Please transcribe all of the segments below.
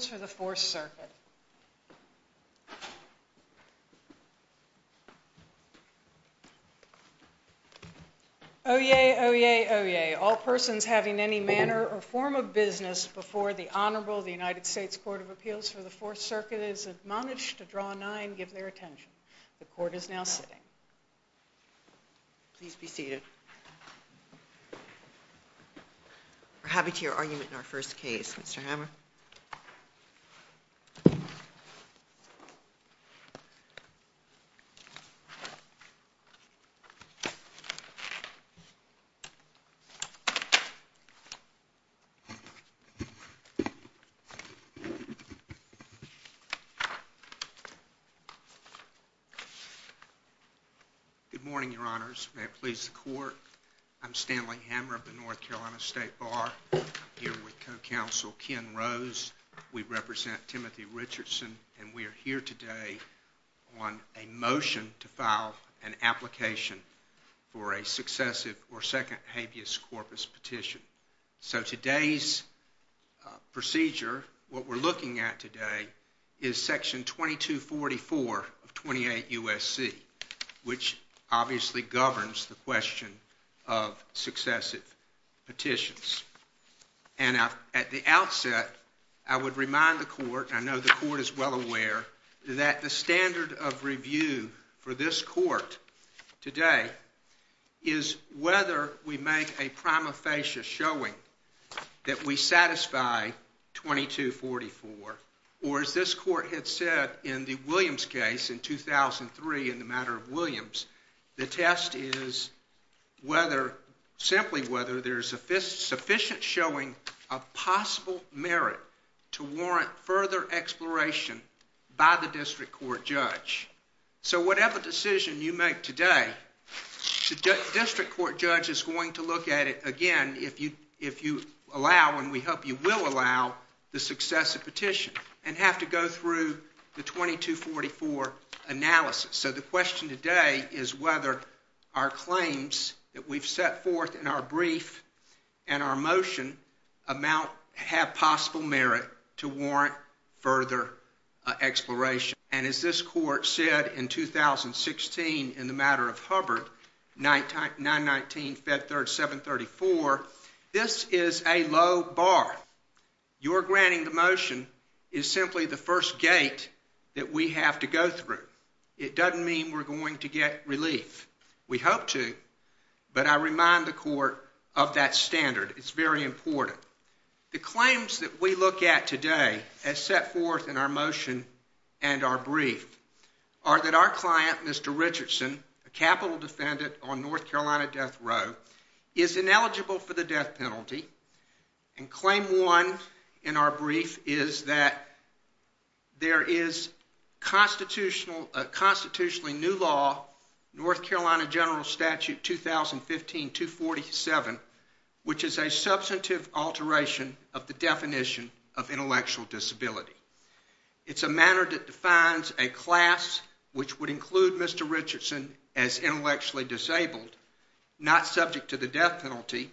Court of Appeals for the Fourth Circuit. Oyez, oyez, oyez. All persons having any manner or form of business before the Honorable the United States Court of Appeals for the Fourth Circuit is admonished to draw a nine and give their attention. The court is now sitting. Please be seated. We're happy to hear your argument in our first case, Mr. Hammer. Good morning, Your Honors, may it please the Court, I'm Stanley Hammer of the North Carolina We represent Timothy Richardson and we are here today on a motion to file an application for a successive or second habeas corpus petition. So today's procedure, what we're looking at today, is section 2244 of 28 U.S.C., which obviously governs the question of successive petitions. And at the outset, I would remind the court, I know the court is well aware, that the standard of review for this court today is whether we make a prima facie showing that we satisfy 2244, or as this court had said in the Williams case in 2003 in the matter of Williams, the sufficient showing of possible merit to warrant further exploration by the district court judge. So whatever decision you make today, the district court judge is going to look at it again if you allow, and we hope you will allow, the successive petition and have to go through the 2244 analysis. So the question today is whether our claims that we've set forth in our brief and our motion amount, have possible merit to warrant further exploration. And as this court said in 2016 in the matter of Hubbard, 919-734, this is a low bar. Your granting the motion is simply the first gate that we have to go through. It doesn't mean we're going to get relief. We hope to, but I remind the court of that standard. It's very important. The claims that we look at today, as set forth in our motion and our brief, are that our client, Mr. Richardson, a capital defendant on North Carolina death row, is ineligible for the constitutionally new law, North Carolina General Statute 2015-247, which is a substantive alteration of the definition of intellectual disability. It's a manner that defines a class which would include Mr. Richardson as intellectually disabled, not subject to the death penalty,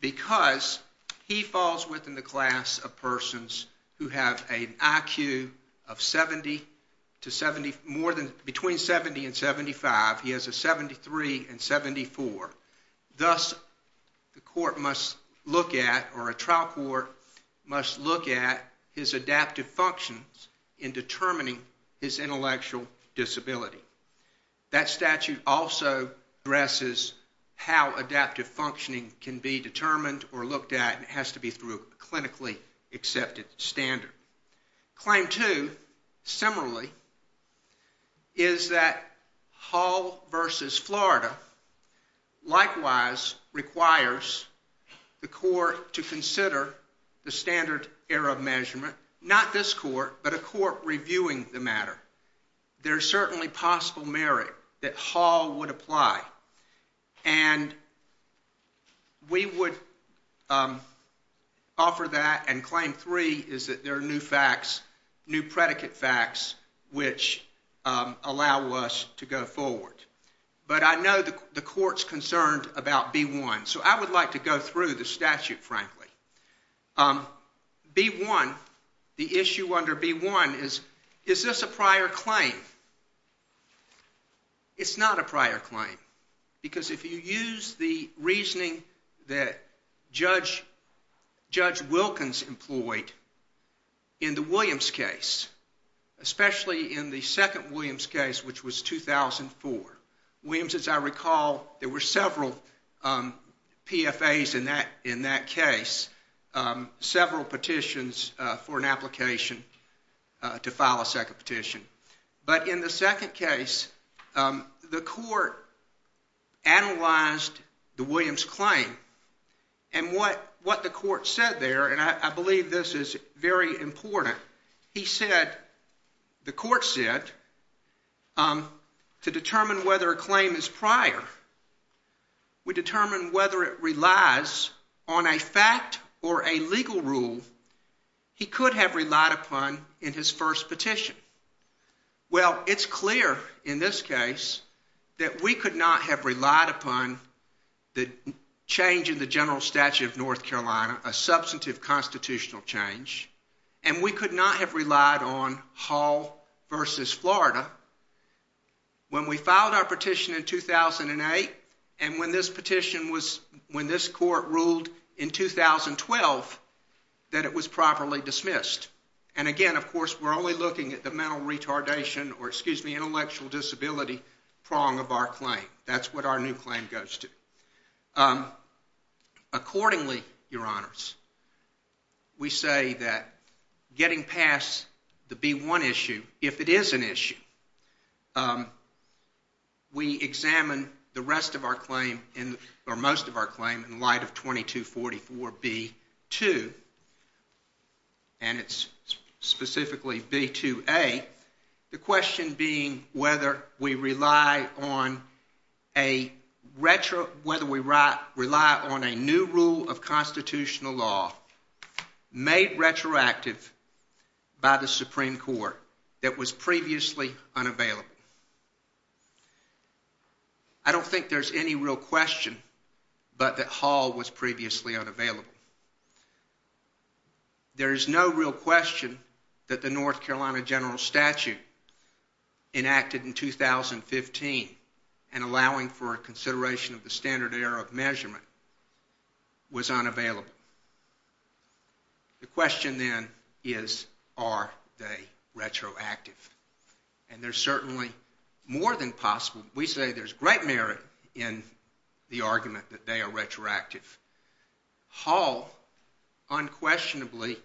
because he falls within the class of persons who have an IQ of 70 to 70, more than, between 70 and 75. He has a 73 and 74. Thus, the court must look at, or a trial court must look at, his adaptive functions in determining his intellectual disability. That statute also addresses how adaptive functioning can be determined or looked at, and it has to be through a clinically accepted standard. Claim two, similarly, is that Hall v. Florida likewise requires the court to consider the standard error of measurement, not this court, but a court reviewing the matter. There's certainly possible merit that Hall would apply, and we would offer that, and claim three is that there are new facts, new predicate facts, which allow us to go forward. But I know the court's concerned about B-1, so I would like to go through the statute, frankly. B-1, the issue under B-1 is, is this a prior claim? It's not a prior claim, because if you use the reasoning that Judge Wilkins employed in the Williams case, especially in the second Williams case, which was 2004, Williams, as I recall, there were several PFAs in that case, several petitions for an application to file a second petition. But in the second case, the court analyzed the Williams claim, and what the court said there, and I believe this is very important, he said, the court said, to determine whether a claim is prior, we determine whether it relies on a fact or a legal rule he could have relied upon in his first petition. Well, it's clear in this case that we could not have relied upon the change in the general statute of North Carolina, a substantive constitutional change, and we could not have relied on Hall versus Florida. Now, when we filed our petition in 2008, and when this petition was, when this court ruled in 2012 that it was properly dismissed, and again, of course, we're only looking at the mental retardation, or excuse me, intellectual disability prong of our claim. That's what our new claim goes to. Accordingly, your honors, we say that getting past the B1 issue, if it is an issue, we examine the rest of our claim, or most of our claim, in light of 2244B2, and it's specifically B2A, the question being whether we rely on a new rule of constitutional law made retroactive by the Supreme Court that was previously unavailable. I don't think there's any real question but that Hall was previously unavailable. There is no real question that the North Carolina general statute enacted in 2015, and allowing for a consideration of the standard error of measurement, was unavailable. The question then is, are they retroactive, and they're certainly more than possible. We say there's great merit in the argument that they are retroactive. Hall, unquestionably,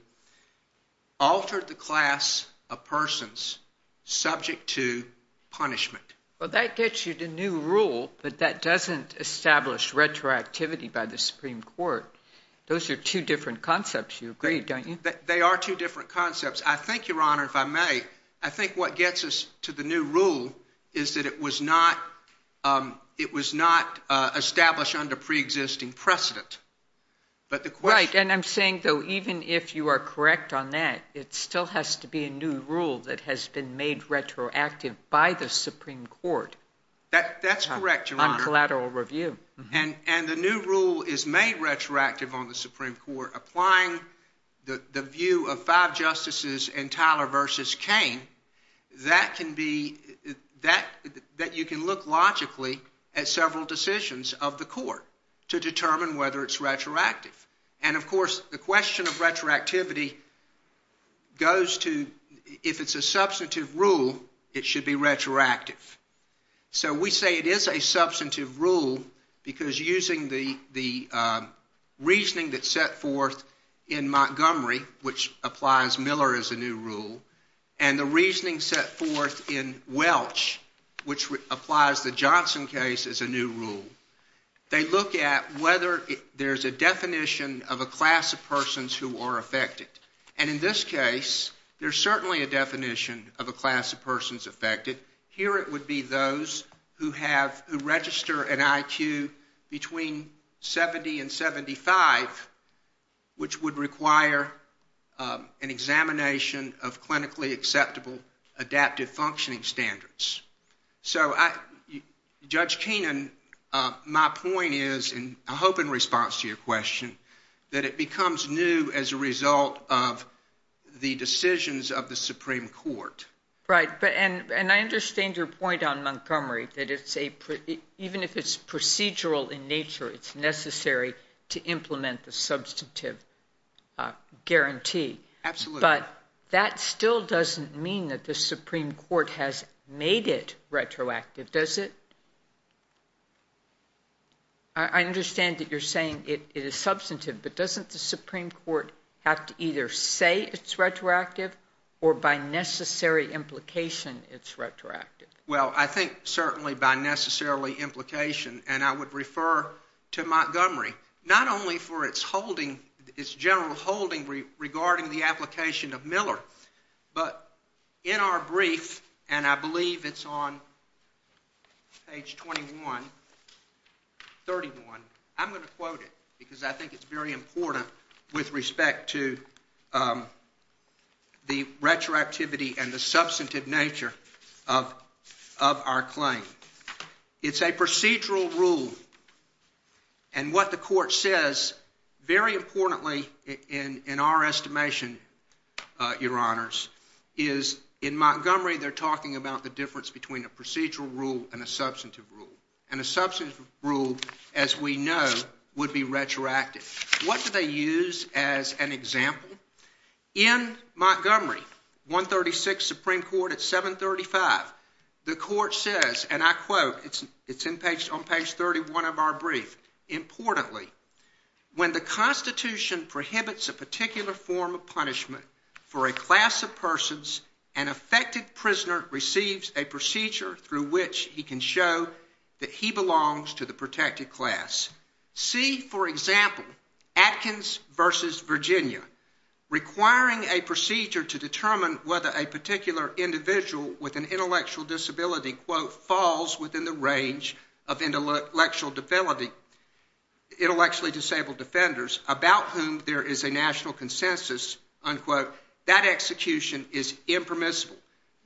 altered the class of persons subject to punishment. Well, that gets you to new rule, but that doesn't establish retroactivity by the Supreme Court. Those are two different concepts, you agree, don't you? They are two different concepts. I think, your honor, if I may, I think what gets us to the new rule is that it was not established under pre-existing precedent. Right, and I'm saying, though, even if you are correct on that, it still has to be a new rule that has been made retroactive by the Supreme Court. That's correct, your honor. On collateral review. And the new rule is made retroactive on the Supreme Court, applying the view of five justices in Tyler v. Kane, that you can look logically at several decisions of the court to determine whether it's retroactive. And of course, the question of retroactivity goes to, if it's a substantive rule, it should be retroactive. So we say it is a substantive rule, because using the reasoning that's set forth in Montgomery, which applies Miller as a new rule, and the reasoning set forth in Welch, which applies the Johnson case as a new rule, they look at whether there's a definition of a class of persons who are affected. And in this case, there's certainly a definition of a class of persons affected. Here it would be those who have, who register an IQ between 70 and 75, which would require an examination of clinically acceptable adaptive functioning standards. So Judge Keenan, my point is, and I hope in response to your question, that it becomes new as a result of the decisions of the Supreme Court. Right. And I understand your point on Montgomery, that it's a, even if it's procedural in nature, it's necessary to implement the substantive guarantee. Absolutely. But that still doesn't mean that the Supreme Court has made it retroactive, does it? I understand that you're saying it is substantive, but doesn't the Supreme Court have to either say it's retroactive, or by necessary implication, it's retroactive? Well, I think certainly by necessarily implication, and I would refer to Montgomery, not only for its holding, its general holding regarding the application of Miller, but in our brief, and I believe it's on page 21, 31, I'm going to quote it, because I think it's very important with respect to the retroactivity and the substantive nature of our claim. It's a procedural rule. And what the court says, very importantly in our estimation, Your Honors, is in Montgomery, they're talking about the difference between a procedural rule and a substantive rule. And a substantive rule, as we know, would be retroactive. What do they use as an example? In Montgomery, 136 Supreme Court at 735, the court says, and I quote, it's on page 31 of our brief, importantly, when the Constitution prohibits a particular form of punishment for a class of persons, an affected prisoner receives a procedure through which he can show that he belongs to the protected class. See, for example, Atkins versus Virginia, requiring a procedure to determine whether a particular individual with an intellectual disability, quote, falls within the range of intellectual disability, intellectually disabled defenders about whom there is a national consensus, unquote, that execution is impermissible.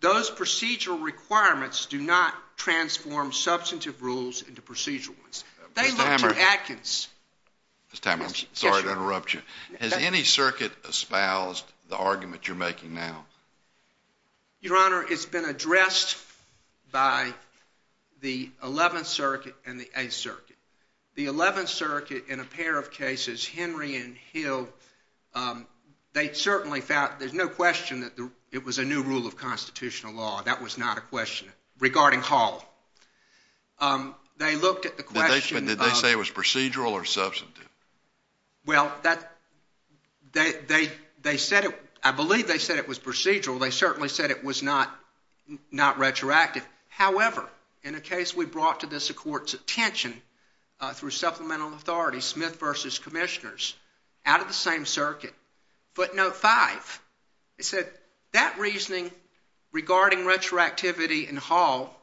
Those procedural requirements do not transform substantive rules into procedural ones. They look to Atkins. Mr. Tammer, I'm sorry to interrupt you. Has any circuit espoused the argument you're making now? Your Honor, it's been addressed by the 11th Circuit and the 8th Circuit. The 11th Circuit, in a pair of cases, Henry and Hill, they certainly found there's no question that it was a new rule of constitutional law. That was not a question regarding Hall. They looked at the question of... Did they say it was procedural or substantive? Well, that... They said it... I believe they said it was procedural. They certainly said it was not retroactive. However, in a case we brought to this Court's attention through Supplemental Authority, Smith versus Commissioners, out of the same circuit, footnote 5, it said, that reasoning regarding retroactivity in Hall...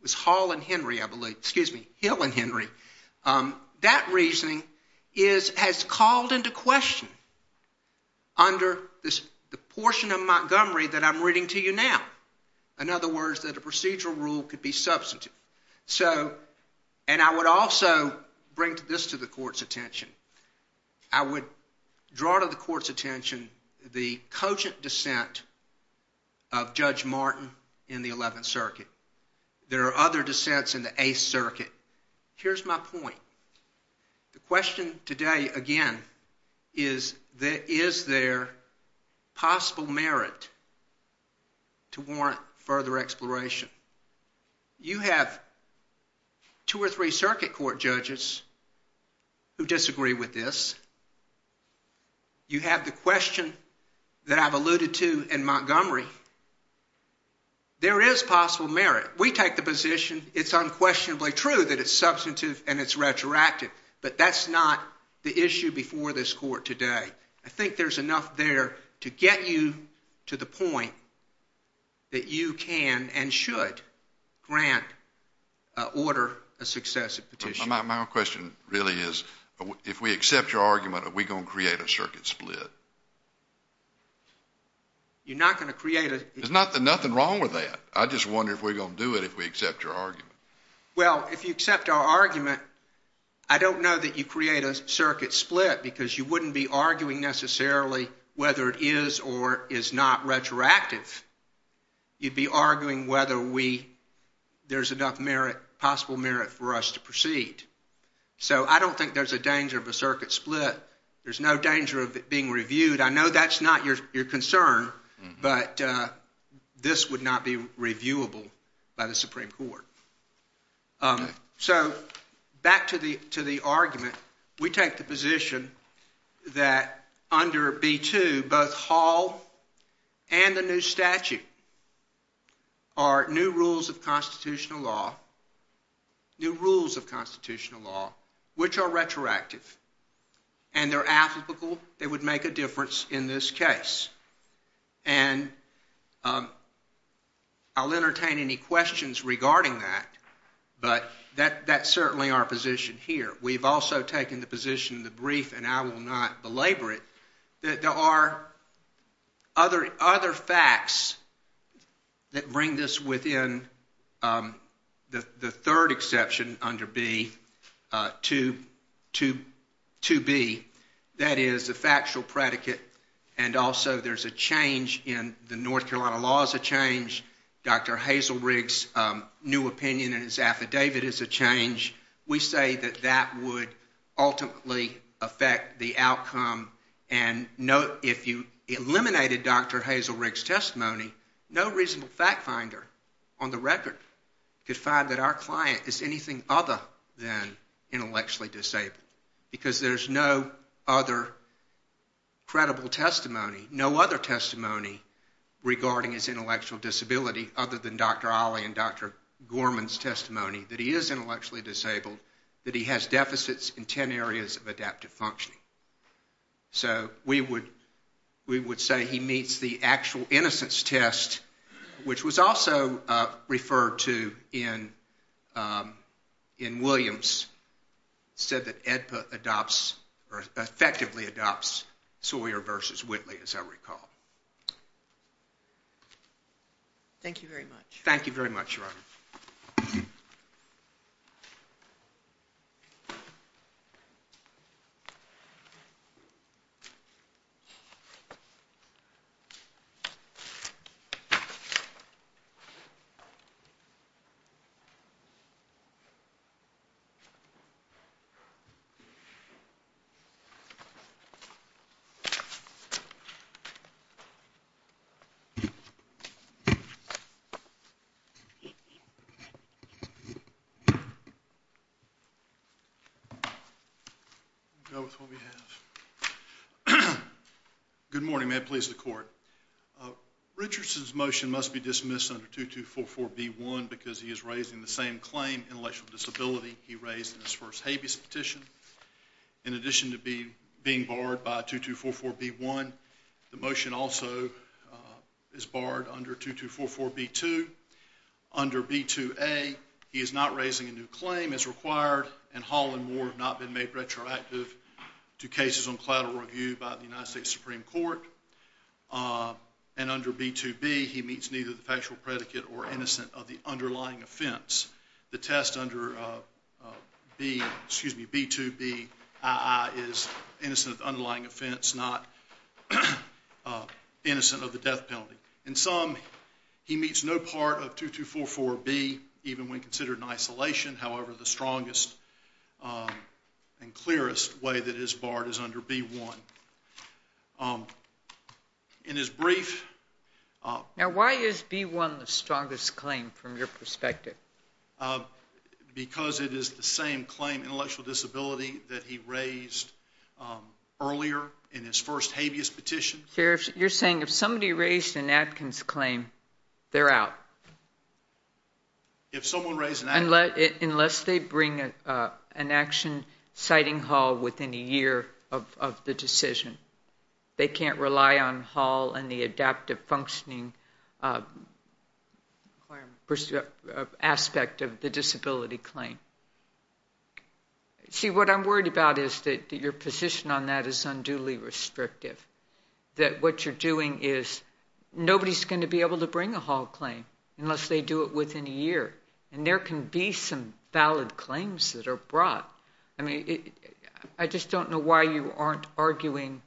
It was Hall and Henry, I believe. Excuse me, Hill and Henry. That reasoning is... has called into question, under the portion of Montgomery that I'm reading to you now, in other words, that a procedural rule could be substantive. And I would also bring this to the Court's attention. I would draw to the Court's attention the cogent dissent of Judge Martin in the 11th Circuit. There are other dissents in the 8th Circuit. Here's my point. The question today, again, is... Is there possible merit to warrant further exploration? You have two or three Circuit Court judges who disagree with this. You have the question that I've alluded to in Montgomery. There is possible merit. We take the position, it's unquestionably true that it's substantive and it's retroactive. But that's not the issue before this Court today. I think there's enough there to get you to the point that you can and should grant order a successive petition. My question really is, if we accept your argument, are we going to create a circuit split? You're not going to create a... There's nothing wrong with that. I just wonder if we're going to do it if we accept your argument. Well, if you accept our argument, I don't know that you create a circuit split because you wouldn't be arguing necessarily whether it is or is not retroactive. You'd be arguing whether there's enough possible merit for us to proceed. So I don't think there's a danger of a circuit split. There's no danger of it being reviewed. I know that's not your concern, but this would not be reviewable by the Supreme Court. So back to the argument. We take the position that under B-2, both Hall and the new statute are new rules of constitutional law, new rules of constitutional law, which are retroactive. And they're applicable. They would make a difference in this case. And I'll entertain any questions regarding that, but that's certainly our position here. We've also taken the position in the brief, and I will not belabor it, that there are other facts that bring this within the third exception under B-2b, that is the factual predicate, and also there's a change in the North Carolina laws, a change. Dr. Hazelrig's new opinion in his affidavit is a change. We say that that would ultimately affect the outcome. And if you eliminated Dr. Hazelrig's testimony, no reasonable fact finder on the record could find that our client is anything other than intellectually disabled because there's no other credible testimony, no other testimony regarding his intellectual disability other than Dr. Ali and Dr. Gorman's testimony that he is intellectually disabled, that he has deficits in 10 areas of adaptive functioning. So we would say he meets the actual innocence test, which was also referred to in Williams, said that AEDPA adopts or effectively adopts Sawyer v. Whitley, as I recall. Thank you very much. Thank you. I'll go with what we have. Good morning, may it please the Court. Richardson's motion must be dismissed under 2244B1 because he is raising the same claim, intellectual disability, he raised in his first habeas petition. In addition to being barred by 2244B1, the motion also is barred under 2244B2. Under B2A, he is not raising a new claim as required, and Hall and Moore have not been made retroactive to cases on collateral review by the United States Supreme Court. And under B2B, he meets neither the factual predicate or innocence of the underlying offense. The test under B2BII is innocent of the underlying offense, not innocent of the death penalty. In sum, he meets no part of 2244B, even when considered in isolation. However, the strongest and clearest way that it is barred is under B1. In his brief... Now, why is B1 the strongest claim from your perspective? Because it is the same claim, intellectual disability, that he raised earlier in his first habeas petition. You're saying if somebody raised an Atkins claim, they're out. If someone raised an Atkins... Unless they bring an action citing Hall within a year of the decision. They can't rely on Hall and the adaptive functioning aspect of the disability claim. See, what I'm worried about is that your position on that is unduly restrictive, that what you're doing is nobody's going to be able to bring a Hall claim unless they do it within a year. And there can be some valid claims that are brought. I mean, I just don't know why you aren't arguing...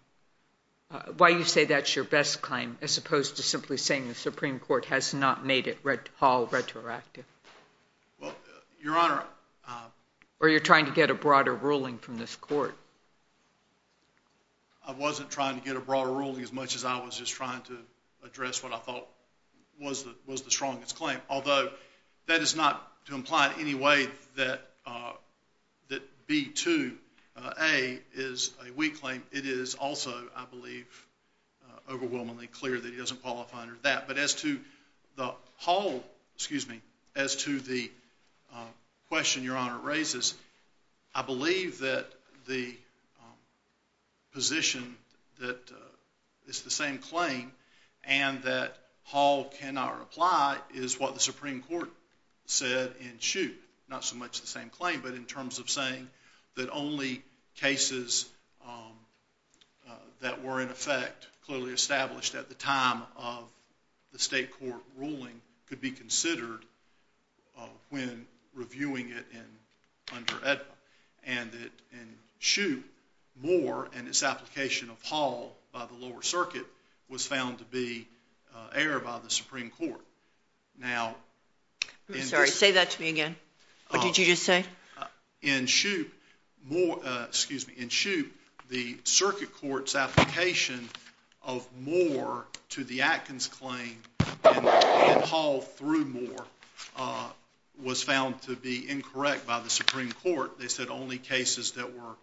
why you say that's your best claim as opposed to simply saying the Supreme Court has not made it Hall retroactive. Well, Your Honor... Or you're trying to get a broader ruling from this court. I wasn't trying to get a broader ruling as much as I was just trying to address what I thought was the strongest claim. Although that is not to imply in any way that B2A is a weak claim. It is also, I believe, overwhelmingly clear that he doesn't qualify under that. But as to the Hall... Excuse me. As to the question Your Honor raises, I believe that the position that it's the same claim and that Hall cannot apply is what the Supreme Court said in Chute. Not so much the same claim, but in terms of saying that only cases that were in effect clearly established at the time of the state court ruling could be considered when reviewing it under AEDPA. And that in Chute, Moore and his application of Hall by the lower circuit was found to be error by the Supreme Court. Now... I'm sorry. Say that to me again. What did you just say? In Chute, Moore... Excuse me. In Chute, the circuit court's application of Moore to the Atkins claim and Hall through Moore was found to be incorrect by the Supreme Court. They said only cases that were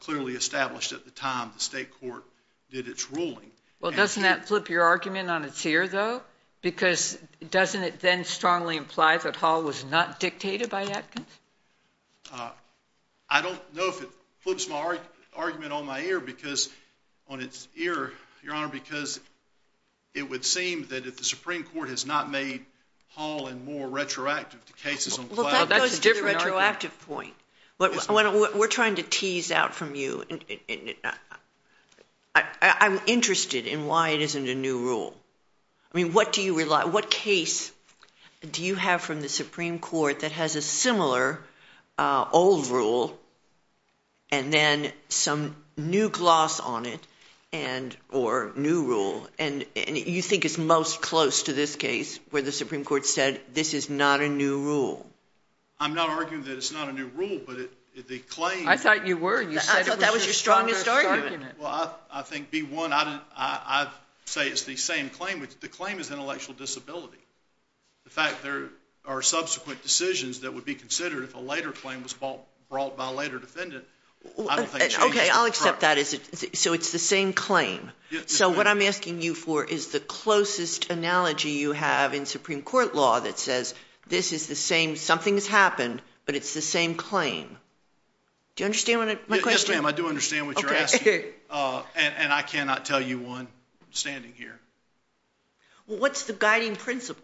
clearly established at the time the state court did its ruling. Well, doesn't that flip your argument on its ear, though? Because doesn't it then strongly imply that Hall was not dictated by Atkins? I don't know if it flips my argument on my ear because on its ear, Your Honor, because it would seem that if the Supreme Court has not made Hall and Moore retroactive to cases on cloud... Well, that goes to the retroactive point. We're trying to tease out from you. I'm interested in why it isn't a new rule. I mean, what case do you have from the Supreme Court that has a similar old rule and then some new gloss on it or new rule? And you think it's most close to this case where the Supreme Court said this is not a new rule. I'm not arguing that it's not a new rule, but the claim... I thought you were. You said it was your strongest argument. Well, I think, B-1, I'd say it's the same claim. The claim is intellectual disability. In fact, there are subsequent decisions that would be considered if a later claim was brought by a later defendant. Okay, I'll accept that. So it's the same claim. So what I'm asking you for is the closest analogy you have in Supreme Court law that says this is the same. Something has happened, but it's the same claim. Do you understand my question? Yes, ma'am, I do understand what you're asking. And I cannot tell you one standing here. Well, what's the guiding principle?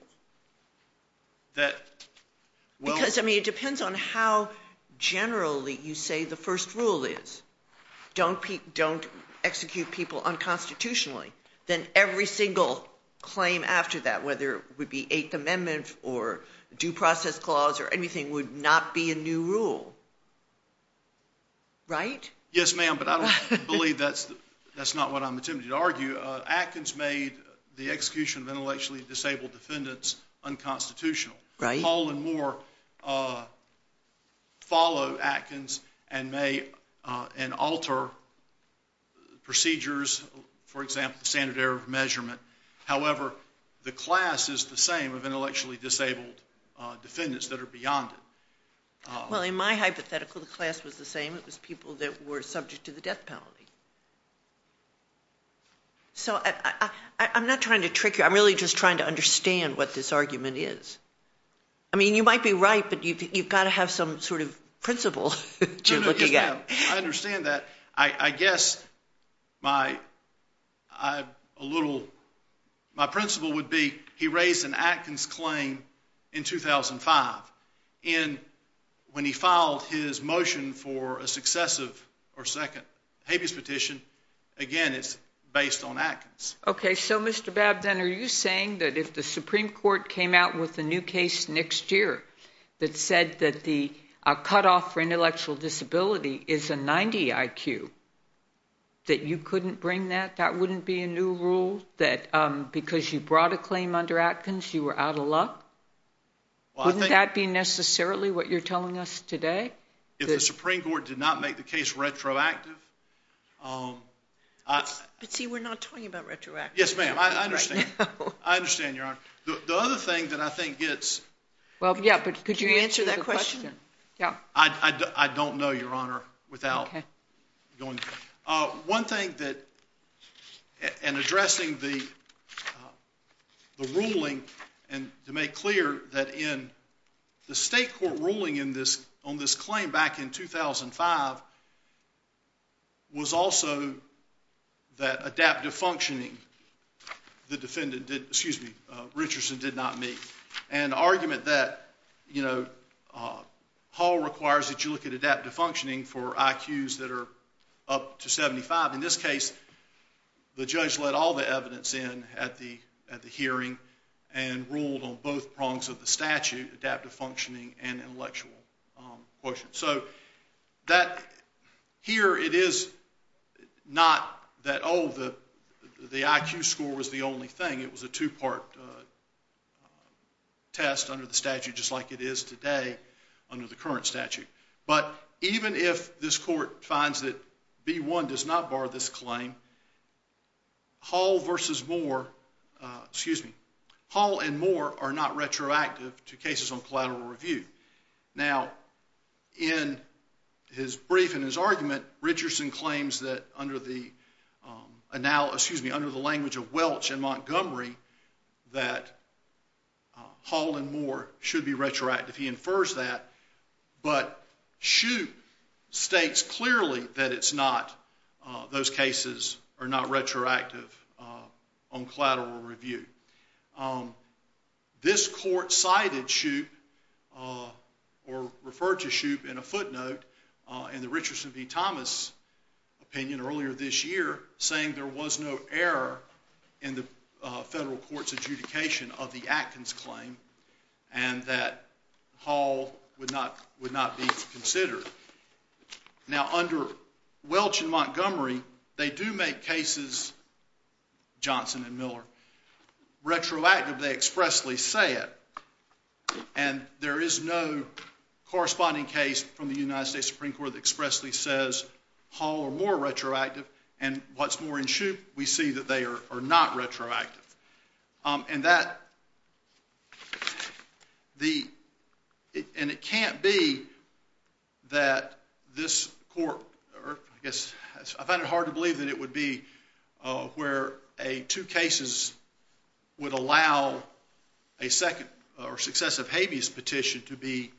Because, I mean, it depends on how generally you say the first rule is. Don't execute people unconstitutionally. Then every single claim after that, whether it would be Eighth Amendment or due process clause or anything, would not be a new rule, right? Yes, ma'am, but I don't believe that's not what I'm attempting to argue. Atkins made the execution of intellectually disabled defendants unconstitutional. Paul and Moore follow Atkins and alter procedures, for example, standard error of measurement. However, the class is the same of intellectually disabled defendants that are beyond it. Well, in my hypothetical, the class was the same. It was people that were subject to the death penalty. So I'm not trying to trick you. I'm really just trying to understand what this argument is. I mean, you might be right, but you've got to have some sort of principle that you're looking at. No, no, yes, ma'am. I understand that. I guess my principle would be he raised an Atkins claim in 2005. And when he filed his motion for a successive or second habeas petition, again, it's based on Atkins. Okay. So, Mr. Babb, then are you saying that if the Supreme Court came out with a new case next year that said that the cutoff for intellectual disability is a 90 IQ, that you couldn't bring that? That wouldn't be a new rule? That because you brought a claim under Atkins, you were out of luck? Wouldn't that be necessarily what you're telling us today? If the Supreme Court did not make the case retroactive. But see, we're not talking about retroactive. Yes, ma'am. I understand. I understand, Your Honor. The other thing that I think gets. Well, yeah, but could you answer that question? Yeah. I don't know, Your Honor, without going. One thing that in addressing the ruling and to make clear that in the state court ruling on this claim back in 2005 was also that adaptive functioning the defendant, excuse me, Richardson did not meet. An argument that Hall requires that you look at adaptive functioning for IQs that are up to 75. In this case, the judge let all the evidence in at the hearing and ruled on both prongs of the statute, adaptive functioning and intellectual quotient. So here it is not that, oh, the IQ score was the only thing. It was a two-part test under the statute just like it is today under the current statute. But even if this court finds that B-1 does not bar this claim, Hall and Moore are not retroactive to cases on collateral review. Now, in his brief and his argument, Richardson claims that under the language of Welch and Montgomery that Hall and Moore should be retroactive. He infers that, but Shoup states clearly that those cases are not retroactive on collateral review. This court cited Shoup or referred to Shoup in a footnote in the Richardson v. Thomas opinion earlier this year saying there was no error in the federal court's adjudication of the Atkins claim and that Hall would not be considered. Now, under Welch and Montgomery, they do make cases, Johnson and Miller, retroactive. They expressly say it. And there is no corresponding case from the United States Supreme Court that expressly says Hall and Moore are retroactive. And what's more, in Shoup, we see that they are not retroactive. And it can't be that this court—I find it hard to believe that it would be where two cases would allow a successive habeas petition to be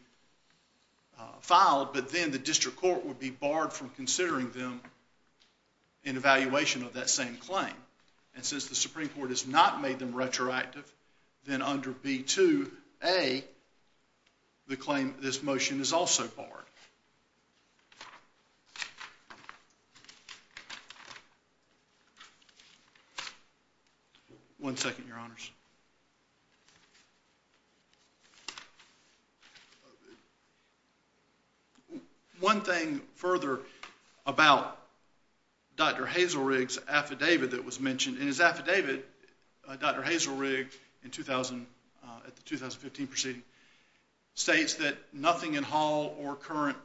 filed, but then the district court would be barred from considering them in evaluation of that same claim. And since the Supreme Court has not made them retroactive, then under B-2A, the claim of this motion is also barred. One second, Your Honors. One thing further about Dr. Hazelrigg's affidavit that was mentioned—and his affidavit, Dr. Hazelrigg, at the 2015 proceeding, states that nothing in Hall or current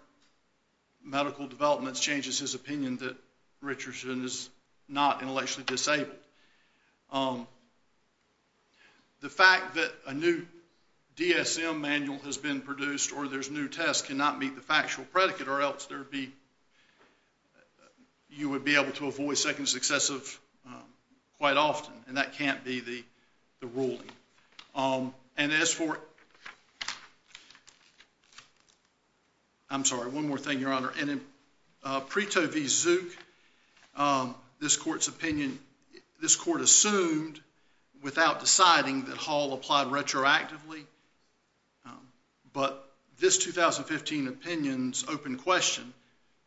medical developments changes his opinion that Richardson is not intellectually disabled. The fact that a new DSM manual has been produced or there's new tests cannot meet the factual predicate, or else you would be able to avoid second successive quite often, and that can't be the ruling. And as for—I'm sorry, one more thing, Your Honor. And in Preto v. Zook, this court's opinion—this court assumed without deciding that Hall applied retroactively, but this 2015 opinion's open question,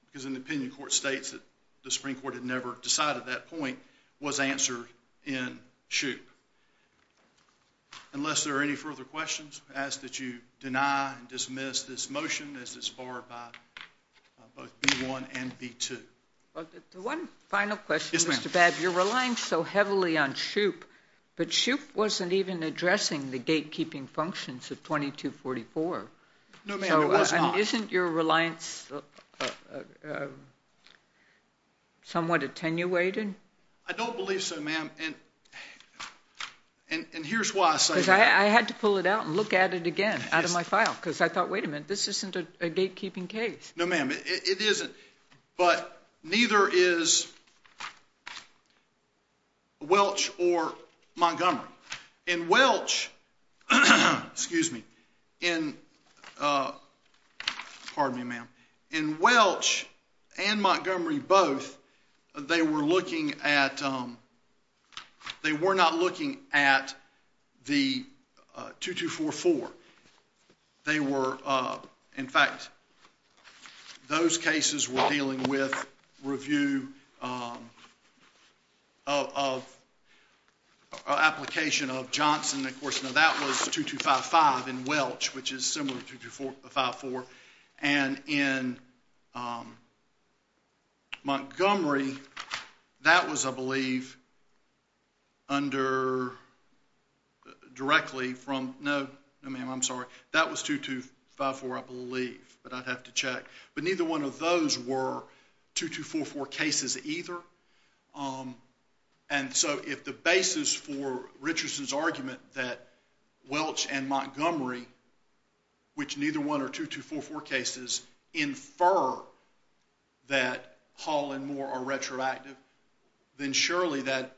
because an opinion court states that the Supreme Court had never decided that point, was answered in Shoup. Unless there are any further questions, I ask that you deny and dismiss this motion as it's barred by both B-1 and B-2. One final question, Mr. Babb. Yes, ma'am. You're relying so heavily on Shoup, but Shoup wasn't even addressing the gatekeeping functions of 2244. No, ma'am, it was not. So isn't your reliance somewhat attenuated? I don't believe so, ma'am, and here's why I say— Because I had to pull it out and look at it again out of my file because I thought, wait a minute, this isn't a gatekeeping case. No, ma'am, it isn't, but neither is Welch or Montgomery. In Welch and Montgomery both, they were not looking at the 2244. In fact, those cases were dealing with review of application of Johnson. Of course, now that was 2255 in Welch, which is similar to 2254. And in Montgomery, that was, I believe, directly from— No, ma'am, I'm sorry. That was 2254, I believe, but I'd have to check. But neither one of those were 2244 cases either. And so if the basis for Richardson's argument that Welch and Montgomery, which neither one are 2244 cases, infer that Hall and Moore are retroactive, then surely that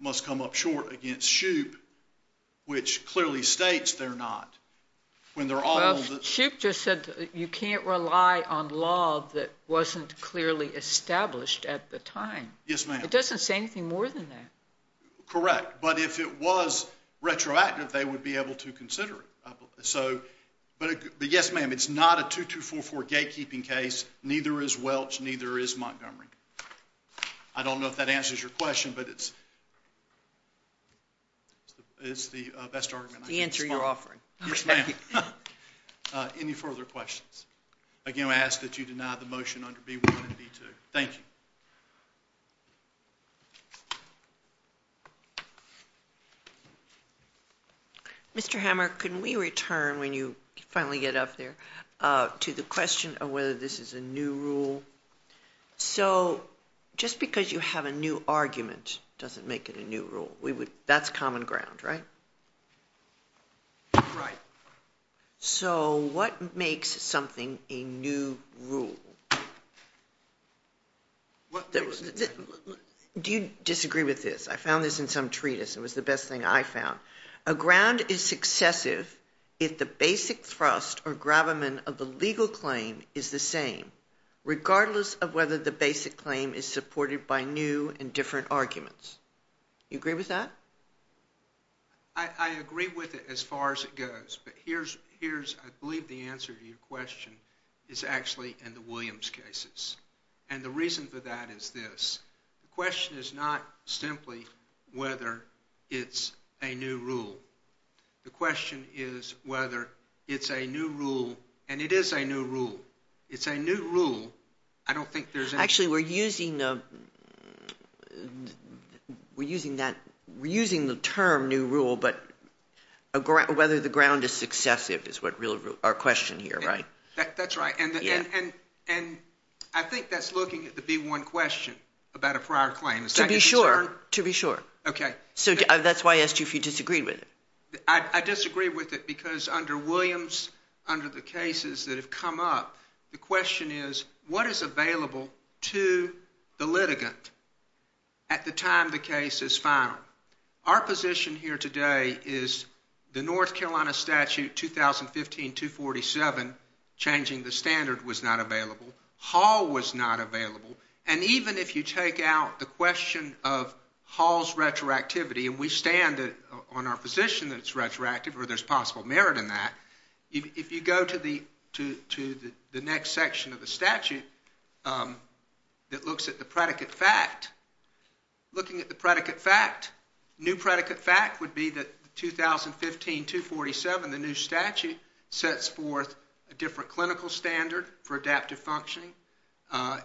must come up short against Shoup, which clearly states they're not, when they're all— But Shoup just said you can't rely on law that wasn't clearly established at the time. Yes, ma'am. It doesn't say anything more than that. Correct, but if it was retroactive, they would be able to consider it. But yes, ma'am, it's not a 2244 gatekeeping case. Neither is Welch. Neither is Montgomery. I don't know if that answers your question, but it's the best argument I can spot. The answer you're offering. Yes, ma'am. Any further questions? Again, I ask that you deny the motion under B1 and B2. Thank you. Mr. Hammer, can we return, when you finally get up there, to the question of whether this is a new rule? So just because you have a new argument doesn't make it a new rule. That's common ground, right? Right. So what makes something a new rule? Do you disagree with this? I found this in some treatise. It was the best thing I found. A ground is successive if the basic thrust or gravamen of the legal claim is the same, regardless of whether the basic claim is supported by new and different arguments. You agree with that? I agree with it as far as it goes, but I believe the answer to your question is actually in the Williams cases. And the reason for that is this. The question is not simply whether it's a new rule. The question is whether it's a new rule, and it is a new rule. It's a new rule. Actually, we're using the term new rule, but whether the ground is successive is our question here, right? That's right. And I think that's looking at the B-1 question about a prior claim. To be sure. To be sure. Okay. So that's why I asked you if you disagreed with it. I disagree with it because under Williams, under the cases that have come up, the question is, what is available to the litigant at the time the case is final? Our position here today is the North Carolina statute 2015-247, changing the standard, was not available. Hall was not available. And even if you take out the question of Hall's retroactivity, and we stand on our position that it's retroactive or there's possible merit in that, if you go to the next section of the statute that looks at the predicate fact, looking at the predicate fact, new predicate fact would be that 2015-247, the new statute, sets forth a different clinical standard for adaptive functioning.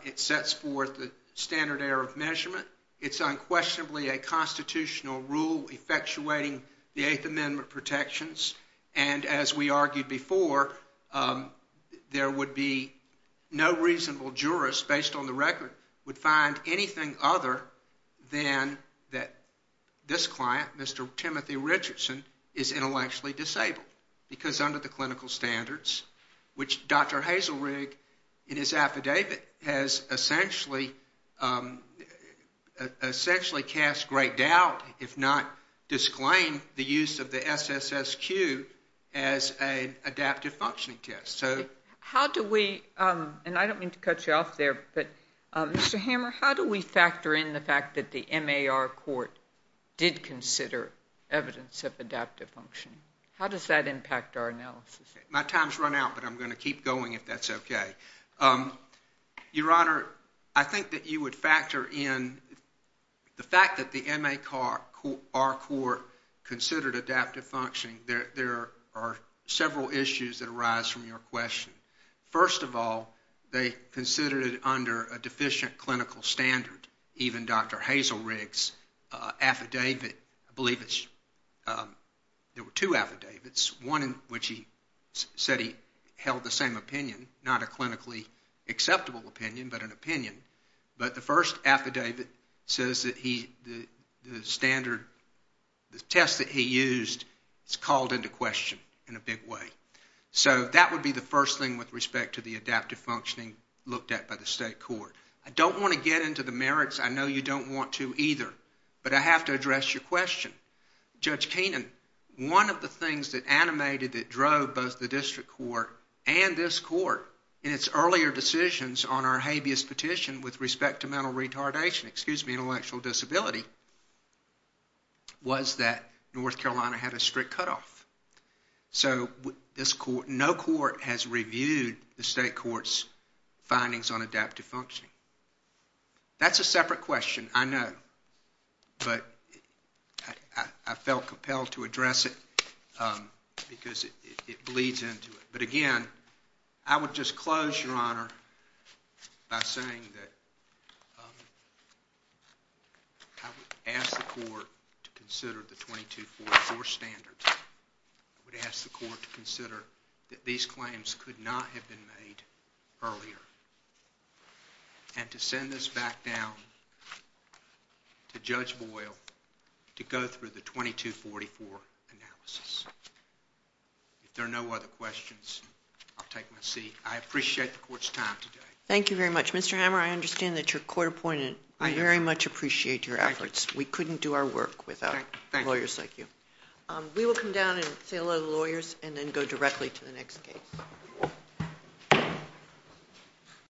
It sets forth the standard error of measurement. It's unquestionably a constitutional rule effectuating the Eighth Amendment protections. And as we argued before, there would be no reasonable jurist, based on the record, would find anything other than that this client, Mr. Timothy Richardson, is intellectually disabled. Because under the clinical standards, which Dr. Hazelrig, in his affidavit, has essentially cast great doubt, if not disclaimed, the use of the SSSQ as an adaptive functioning test. So how do we, and I don't mean to cut you off there, but Mr. Hammer, how do we factor in the fact that the MAR court did consider evidence of adaptive functioning? How does that impact our analysis? My time's run out, but I'm going to keep going if that's okay. Your Honor, I think that you would factor in the fact that the MAR court considered adaptive functioning. There are several issues that arise from your question. First of all, they considered it under a deficient clinical standard. Even Dr. Hazelrig's affidavit, I believe there were two affidavits, one in which he said he held the same opinion, not a clinically acceptable opinion, but an opinion. But the first affidavit says that the test that he used is called into question in a big way. So that would be the first thing with respect to the adaptive functioning looked at by the state court. I don't want to get into the merits. I know you don't want to either, but I have to address your question. Judge Keenan, one of the things that animated, that drove both the district court and this court in its earlier decisions on our habeas petition with respect to mental retardation, excuse me, intellectual disability, was that North Carolina had a strict cutoff. So no court has reviewed the state court's findings on adaptive functioning. That's a separate question, I know, but I felt compelled to address it because it bleeds into it. But again, I would just close, Your Honor, by saying that I would ask the court to consider the 2244 standards. I would ask the court to consider that these claims could not have been made earlier and to send this back down to Judge Boyle to go through the 2244 analysis. If there are no other questions, I'll take my seat. I appreciate the court's time today. Thank you very much. Mr. Hammer, I understand that you're court appointed. I very much appreciate your efforts. We couldn't do our work without lawyers like you. We will come down and say hello to the lawyers and then go directly to the next case.